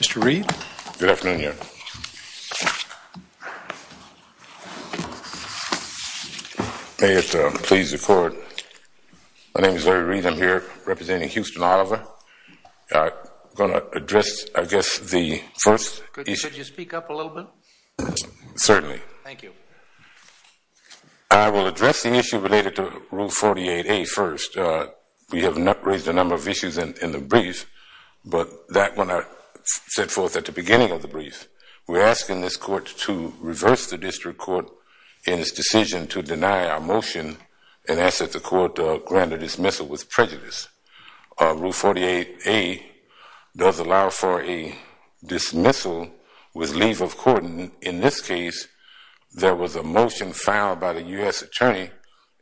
Mr. Reed. Good afternoon. May it please the court. My name is Larry Reed. I'm here representing Houston Oliver. I'm going to address, I guess, the first issue. Could you speak up a little bit? Certainly. Thank you. I will address the issue related to Rule 48A first. We have raised a number of issues in the brief, but that one I set forth at the beginning of the brief. We're asking this court to reverse the district court in its decision to deny our motion and ask that the court grant a dismissal with prejudice. Rule 48A does allow for a dismissal with leave of court. In this case, there was a motion filed by the U.S. attorney,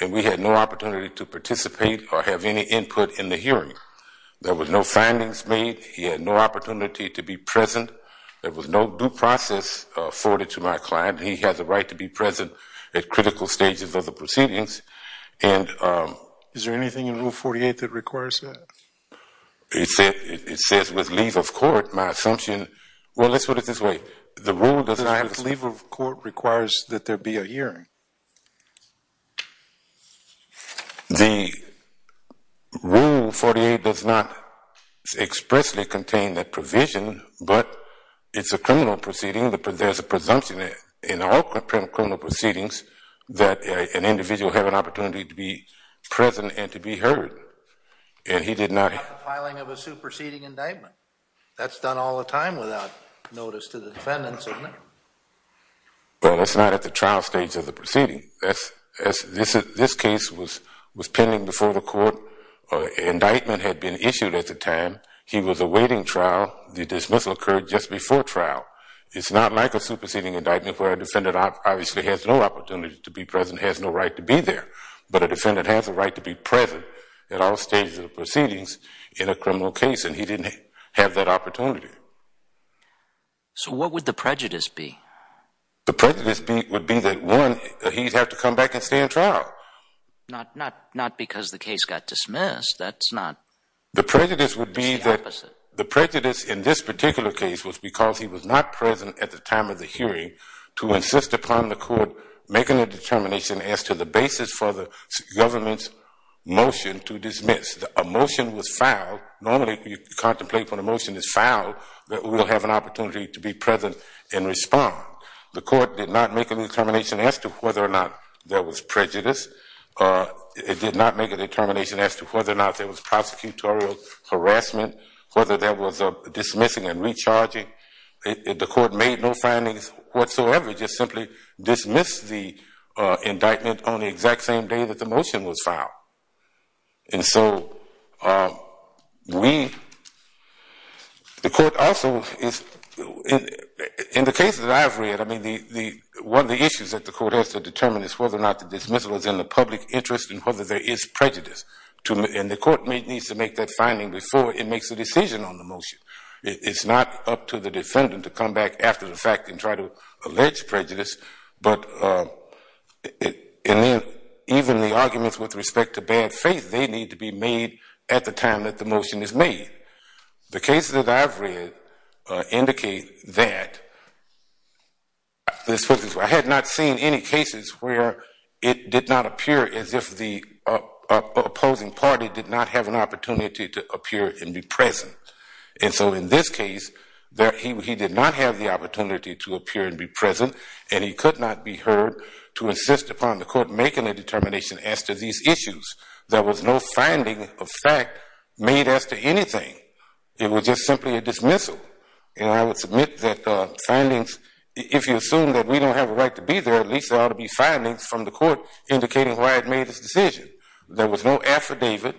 and we had no opportunity to participate or have any input in the hearing. There were no findings made. He had no opportunity to be present. There was no due process afforded to my client. He had the right to be present at critical stages of the proceedings. Is there anything in Rule 48 that requires that? It says, with leave of court, my assumption. Well, let's put it this way. With leave of court requires that there be a hearing. The Rule 48 does not expressly contain that provision, but it's a criminal proceeding. There's a presumption in all criminal proceedings that an individual has an opportunity to be present and to be heard. And he did not have the filing of a superseding indictment. That's done all the time without notice to the defendants, isn't it? Well, it's not at the trial stage of the proceeding. This case was pending before the court. An indictment had been issued at the time. He was awaiting trial. The dismissal occurred just before trial. It's not like a superseding indictment where a defendant obviously has no opportunity to be present, has no right to be there. But a defendant has a right to be present at all stages of the proceedings in a criminal case, and he didn't have that opportunity. So what would the prejudice be? The prejudice would be that, one, he'd have to come back and stay in trial. Not because the case got dismissed. That's not the opposite. The prejudice would be that the prejudice in this particular case was because he was not present at the time of the hearing to insist upon the court making a determination as to the basis for the government's motion to dismiss. If a motion was filed, normally you contemplate when a motion is filed that we'll have an opportunity to be present and respond. The court did not make a determination as to whether or not there was prejudice. It did not make a determination as to whether or not there was prosecutorial harassment, whether there was dismissing and recharging. The court made no findings whatsoever. It just simply dismissed the indictment on the exact same day that the motion was filed. And so we, the court also, in the cases I've read, one of the issues that the court has to determine is whether or not the dismissal is in the public interest and whether there is prejudice. And the court needs to make that finding before it makes a decision on the motion. It's not up to the defendant to come back after the fact and try to allege prejudice. But even the arguments with respect to bad faith, they need to be made at the time that the motion is made. The cases that I've read indicate that. I had not seen any cases where it did not appear as if the opposing party did not have an opportunity to appear and be present. And so in this case, he did not have the opportunity to appear and be present, and he could not be heard to insist upon the court making a determination as to these issues. There was no finding of fact made as to anything. It was just simply a dismissal. And I would submit that findings, if you assume that we don't have a right to be there, at least there ought to be findings from the court indicating why it made its decision. There was no affidavit.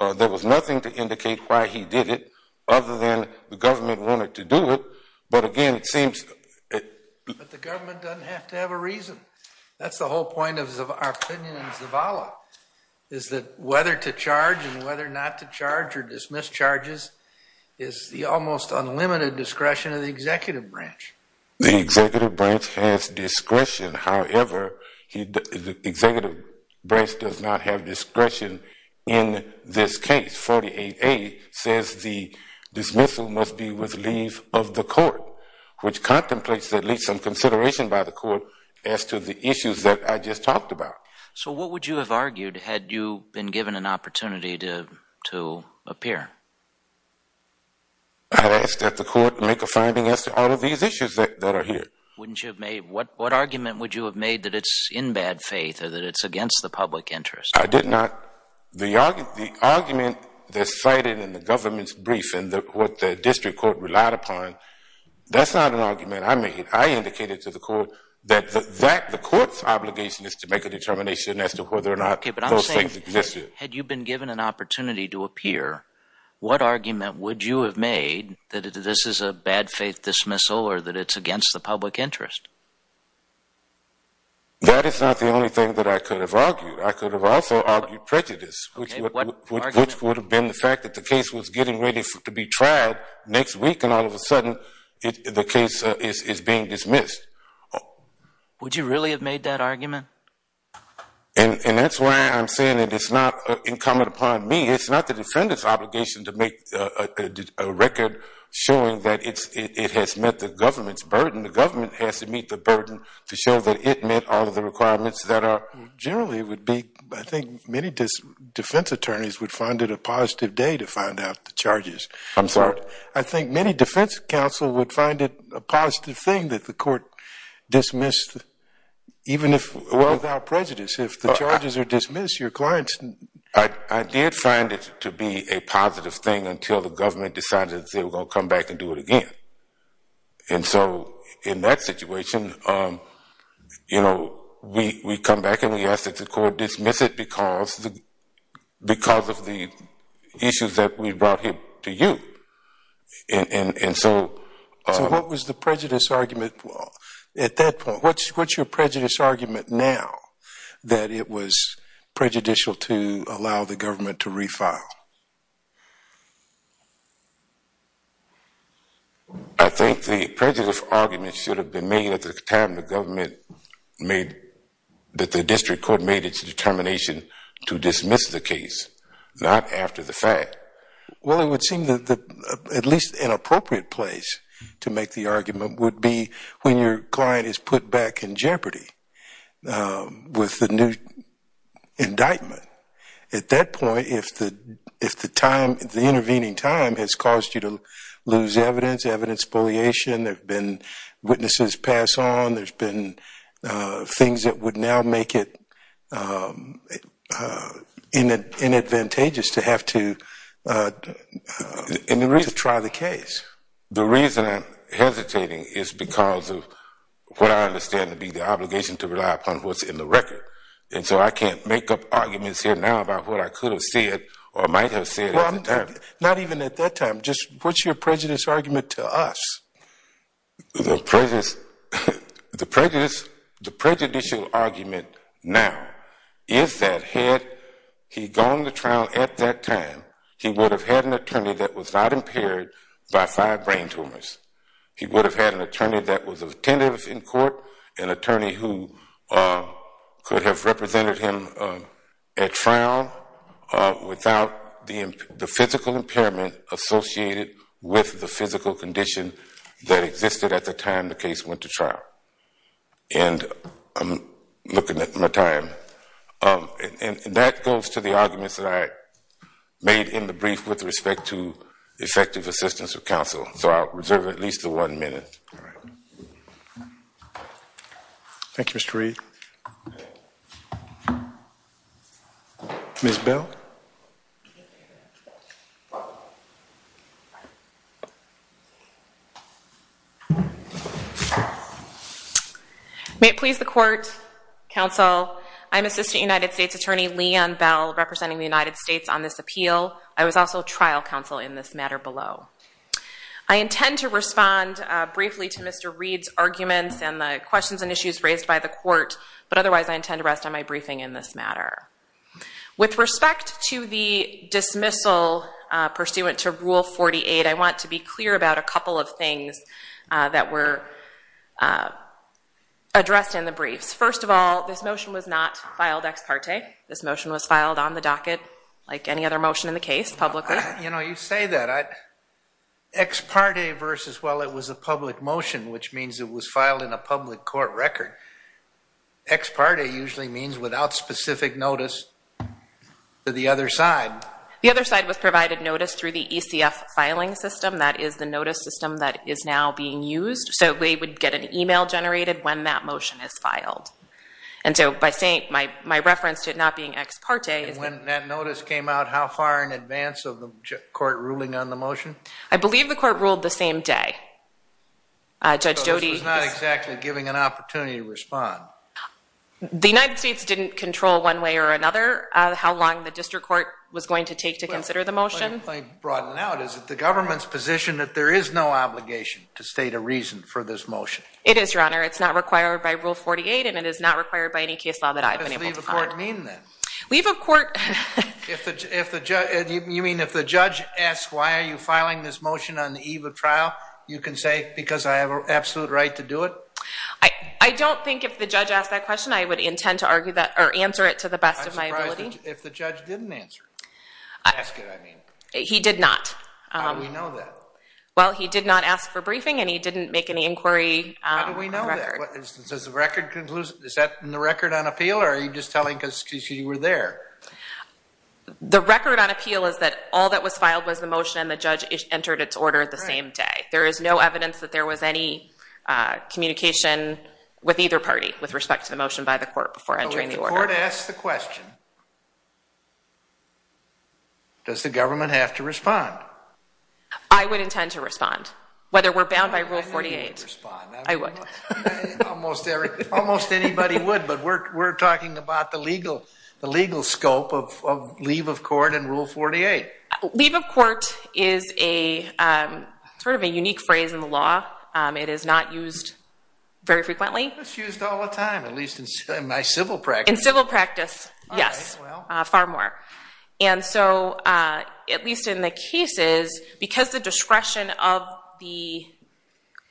There was nothing to indicate why he did it other than the government wanted to do it. But again, it seems... But the government doesn't have to have a reason. That's the whole point of our opinion in Zavala, is that whether to charge and whether not to charge or dismiss charges is the almost unlimited discretion of the executive branch. The executive branch has discretion. However, the executive branch does not have discretion in this case. 48A says the dismissal must be with leave of the court, which contemplates at least some consideration by the court as to the issues that I just talked about. So what would you have argued had you been given an opportunity to appear? I'd ask that the court make a finding as to all of these issues that are here. What argument would you have made that it's in bad faith or that it's against the public interest? I did not. The argument that's cited in the government's brief and what the district court relied upon, that's not an argument I made. I indicated to the court that the court's obligation is to make a determination as to whether or not those things existed. Had you been given an opportunity to appear, what argument would you have made that this is a bad faith dismissal or that it's against the public interest? That is not the only thing that I could have argued. I could have also argued prejudice, which would have been the fact that the case was getting ready to be tried next week, and all of a sudden the case is being dismissed. Would you really have made that argument? And that's why I'm saying that it's not incumbent upon me. It's not the defendant's obligation to make a record showing that it has met the government's burden. The government has to meet the burden to show that it met all of the requirements that are generally would be... I think many defense attorneys would find it a positive day to find out the charges. I'm sorry? I think many defense counsel would find it a positive thing that the court dismissed even if without prejudice. If the charges are dismissed, your clients... I did find it to be a positive thing until the government decided they were going to come back and do it again. And so in that situation, you know, we come back and we ask that the court dismiss it because of the issues that we brought here to you. And so... So what was the prejudice argument at that point? What's your prejudice argument now that it was prejudicial to allow the government to refile? I think the prejudice argument should have been made at the time the government made... that the district court made its determination to dismiss the case, not after the fact. Well, it would seem that at least an appropriate place to make the argument would be when your client is put back in jeopardy with the new indictment. At that point, if the intervening time has caused you to lose evidence, evidence bulliation, there have been witnesses pass on, there have been things that would now make it inadvantageous to have to try the case. The reason I'm hesitating is because of what I understand to be the obligation to rely upon what's in the record. And so I can't make up arguments here now about what I could have said or might have said at the time. Not even at that time, just what's your prejudice argument to us? The prejudicial argument now is that had he gone to trial at that time, he would have had an attorney that was not impaired by five brain tumors. He would have had an attorney that was attentive in court, an attorney who could have represented him at trial without the physical impairment associated with the physical condition that existed at the time the case went to trial. And I'm looking at my time. And that goes to the arguments that I made in the brief with respect to effective assistance of counsel. So I'll reserve at least one minute. Thank you, Mr. Reed. Ms. Bell? May it please the court, counsel, I'm Assistant United States Attorney Leigh Ann Bell, representing the United States on this appeal. I was also trial counsel in this matter below. I intend to respond briefly to Mr. Reed's arguments and the questions and issues raised by the court, but otherwise I intend to rest on my briefing in this matter. With respect to the dismissal pursuant to Rule 48, I want to be clear about a couple of things that were addressed in the briefs. First of all, this motion was not filed ex parte. This motion was filed on the docket like any other motion in the case publicly. You know, you say that. Ex parte versus, well, it was a public motion, which means it was filed in a public court record. Ex parte usually means without specific notice to the other side. The other side was provided notice through the ECF filing system. That is the notice system that is now being used. So they would get an e-mail generated when that motion is filed. And so by saying, my reference to it not being ex parte. And when that notice came out, how far in advance of the court ruling on the motion? I believe the court ruled the same day. So this was not exactly giving an opportunity to respond. The United States didn't control one way or another how long the district court was going to take to consider the motion. Let me broaden it out. Is it the government's position that there is no obligation to state a reason for this motion? It is, Your Honor. It's not required by Rule 48, and it is not required by any case law that I've been able to file. You mean if the judge asks why are you filing this motion on the eve of trial, you can say because I have an absolute right to do it? I don't think if the judge asked that question, I would intend to answer it to the best of my ability. I'm surprised if the judge didn't answer it. Ask it, I mean. He did not. How do we know that? Well, he did not ask for briefing, and he didn't make any inquiry. How do we know that? Is that in the record on appeal, or are you just telling us because you were there? The record on appeal is that all that was filed was the motion, and the judge entered its order the same day. There is no evidence that there was any communication with either party with respect to the motion by the court before entering the order. But if the court asks the question, does the government have to respond? I would intend to respond, whether we're bound by Rule 48. I would. Almost anybody would, but we're talking about the legal scope of leave of court and Rule 48. Leave of court is sort of a unique phrase in the law. It is not used very frequently. It's used all the time, at least in my civil practice. In civil practice, yes, far more. And so at least in the cases, because the discretion of the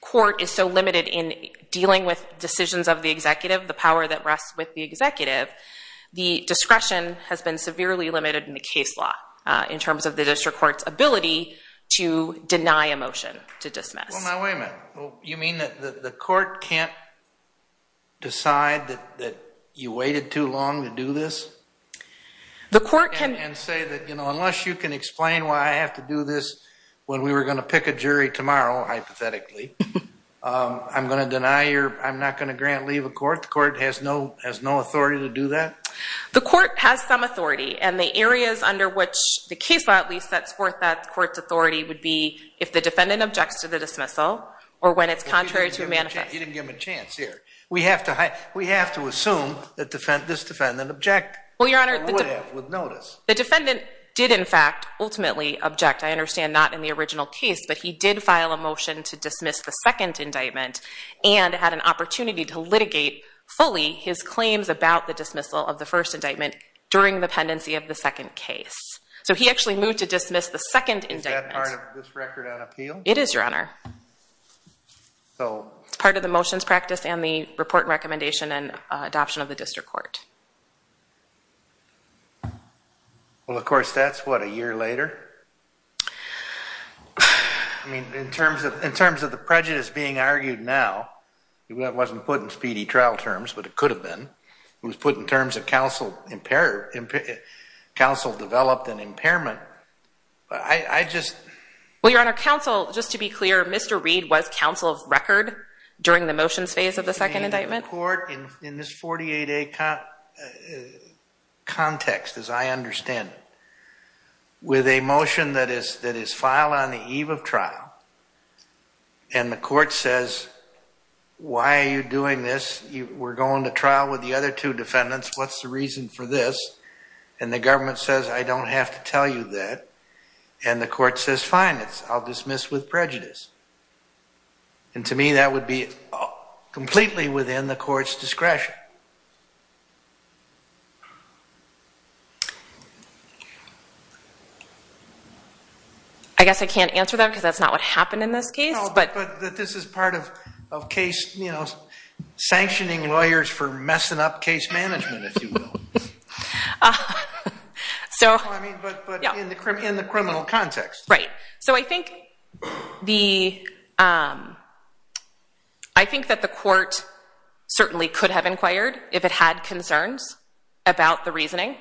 court is so limited in dealing with decisions of the executive, the power that rests with the executive, the discretion has been severely limited in the case law in terms of the district court's ability to deny a motion to dismiss. Well, now, wait a minute. You mean that the court can't decide that you waited too long to do this? The court can. And say that, you know, unless you can explain why I have to do this when we were going to pick a jury tomorrow, hypothetically, I'm going to deny your, I'm not going to grant leave of court. The court has no authority to do that? The court has some authority, and the areas under which the case law at least sets forth that court's authority would be if the defendant objects to the dismissal or when it's contrary to a manifesto. You didn't give them a chance here. We have to assume that this defendant objected. Well, Your Honor, the defendant did, in fact, ultimately object. I understand not in the original case, but he did file a motion to dismiss the second indictment and had an opportunity to litigate fully his claims about the dismissal of the first indictment during the pendency of the second case. So he actually moved to dismiss the second indictment. Is that part of this record on appeal? It is, Your Honor. It's part of the motions practice and the report and recommendation and adoption of the district court. Well, of course, that's what, a year later? I mean, in terms of the prejudice being argued now, it wasn't put in speedy trial terms, but it could have been. It was put in terms of counsel developed an impairment. I just... Well, Your Honor, counsel, just to be clear, Mr. Reed was counsel of record during the motions phase of the second indictment? In this 48A context, as I understand it, with a motion that is filed on the eve of trial, and the court says, why are you doing this? We're going to trial with the other two defendants. What's the reason for this? And the government says, I don't have to tell you that. And the court says, fine, I'll dismiss with prejudice. And to me, that would be completely within the court's discretion. I guess I can't answer that because that's not what happened in this case. No, but this is part of case, you know, sanctioning lawyers for messing up case management, if you will. Well, I mean, but in the criminal context. Right. So I think that the court certainly could have inquired if it had concerns about the reasoning.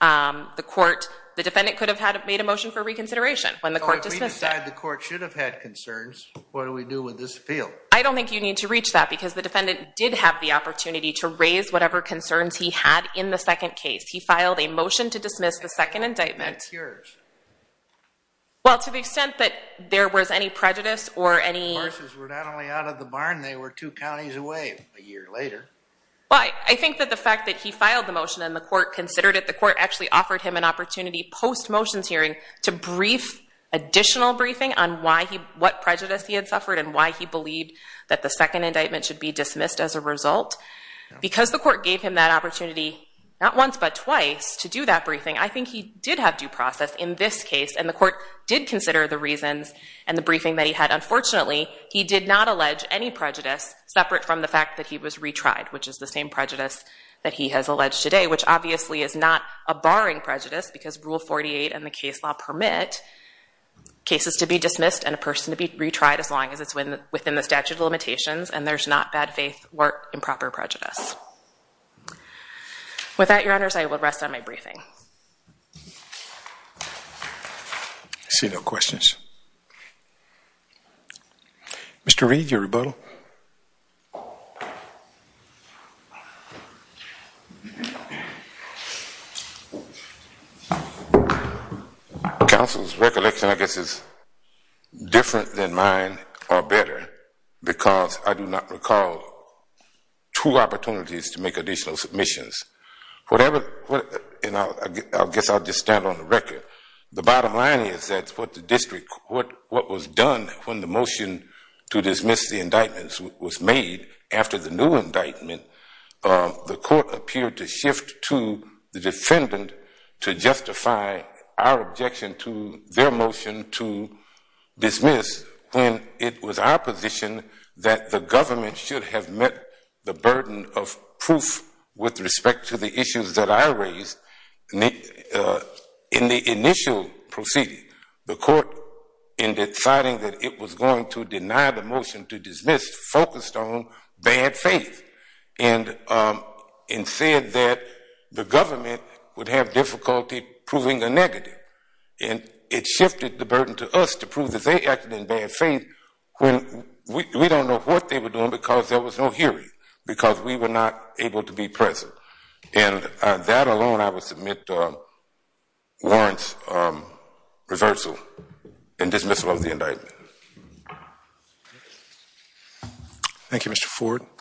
The defendant could have made a motion for reconsideration when the court dismissed it. Well, if we decide the court should have had concerns, what do we do with this appeal? I don't think you need to reach that because the defendant did have the opportunity to raise whatever concerns he had in the second case. He filed a motion to dismiss the second indictment. Well, to the extent that there was any prejudice or any... The horses were not only out of the barn, they were two counties away a year later. Well, I think that the fact that he filed the motion and the court considered it, the court actually offered him an opportunity post-motions hearing to brief additional briefing on what prejudice he had suffered and why he believed that the second indictment should be dismissed as a result. Because the court gave him that opportunity not once but twice to do that briefing, I think he did have due process in this case, and the court did consider the reasons and the briefing that he had. Unfortunately, he did not allege any prejudice separate from the fact that he was retried, which is the same prejudice that he has alleged today, which obviously is not a barring prejudice because Rule 48 and the case law permit cases to be dismissed and a person to be retried as long as it's within the statute of limitations and there's not bad faith or improper prejudice. With that, Your Honors, I will rest on my briefing. I see no questions. Mr. Reed, your rebuttal. Counsel's recollection, I guess, is different than mine or better because I do not recall two opportunities to make additional submissions. Whatever, you know, I guess I'll just stand on the record. The bottom line is that what the district, was submitted to the District of Columbia was that the District of Columbia was made after the new indictment. The court appeared to shift to the defendant to justify our objection to their motion to dismiss when it was our position that the government should have met the burden of proof with respect to the issues that I raised. In the initial proceeding, the court, in deciding that it was going to deny the motion to dismiss, focused on bad faith and said that the government would have difficulty proving a negative. It shifted the burden to us to prove that they acted in bad faith when we don't know what they were doing because there was no hearing, because we were not able to be present. That alone, I would submit warrants reversal and dismissal of the indictment. Thank you, Mr. Ford.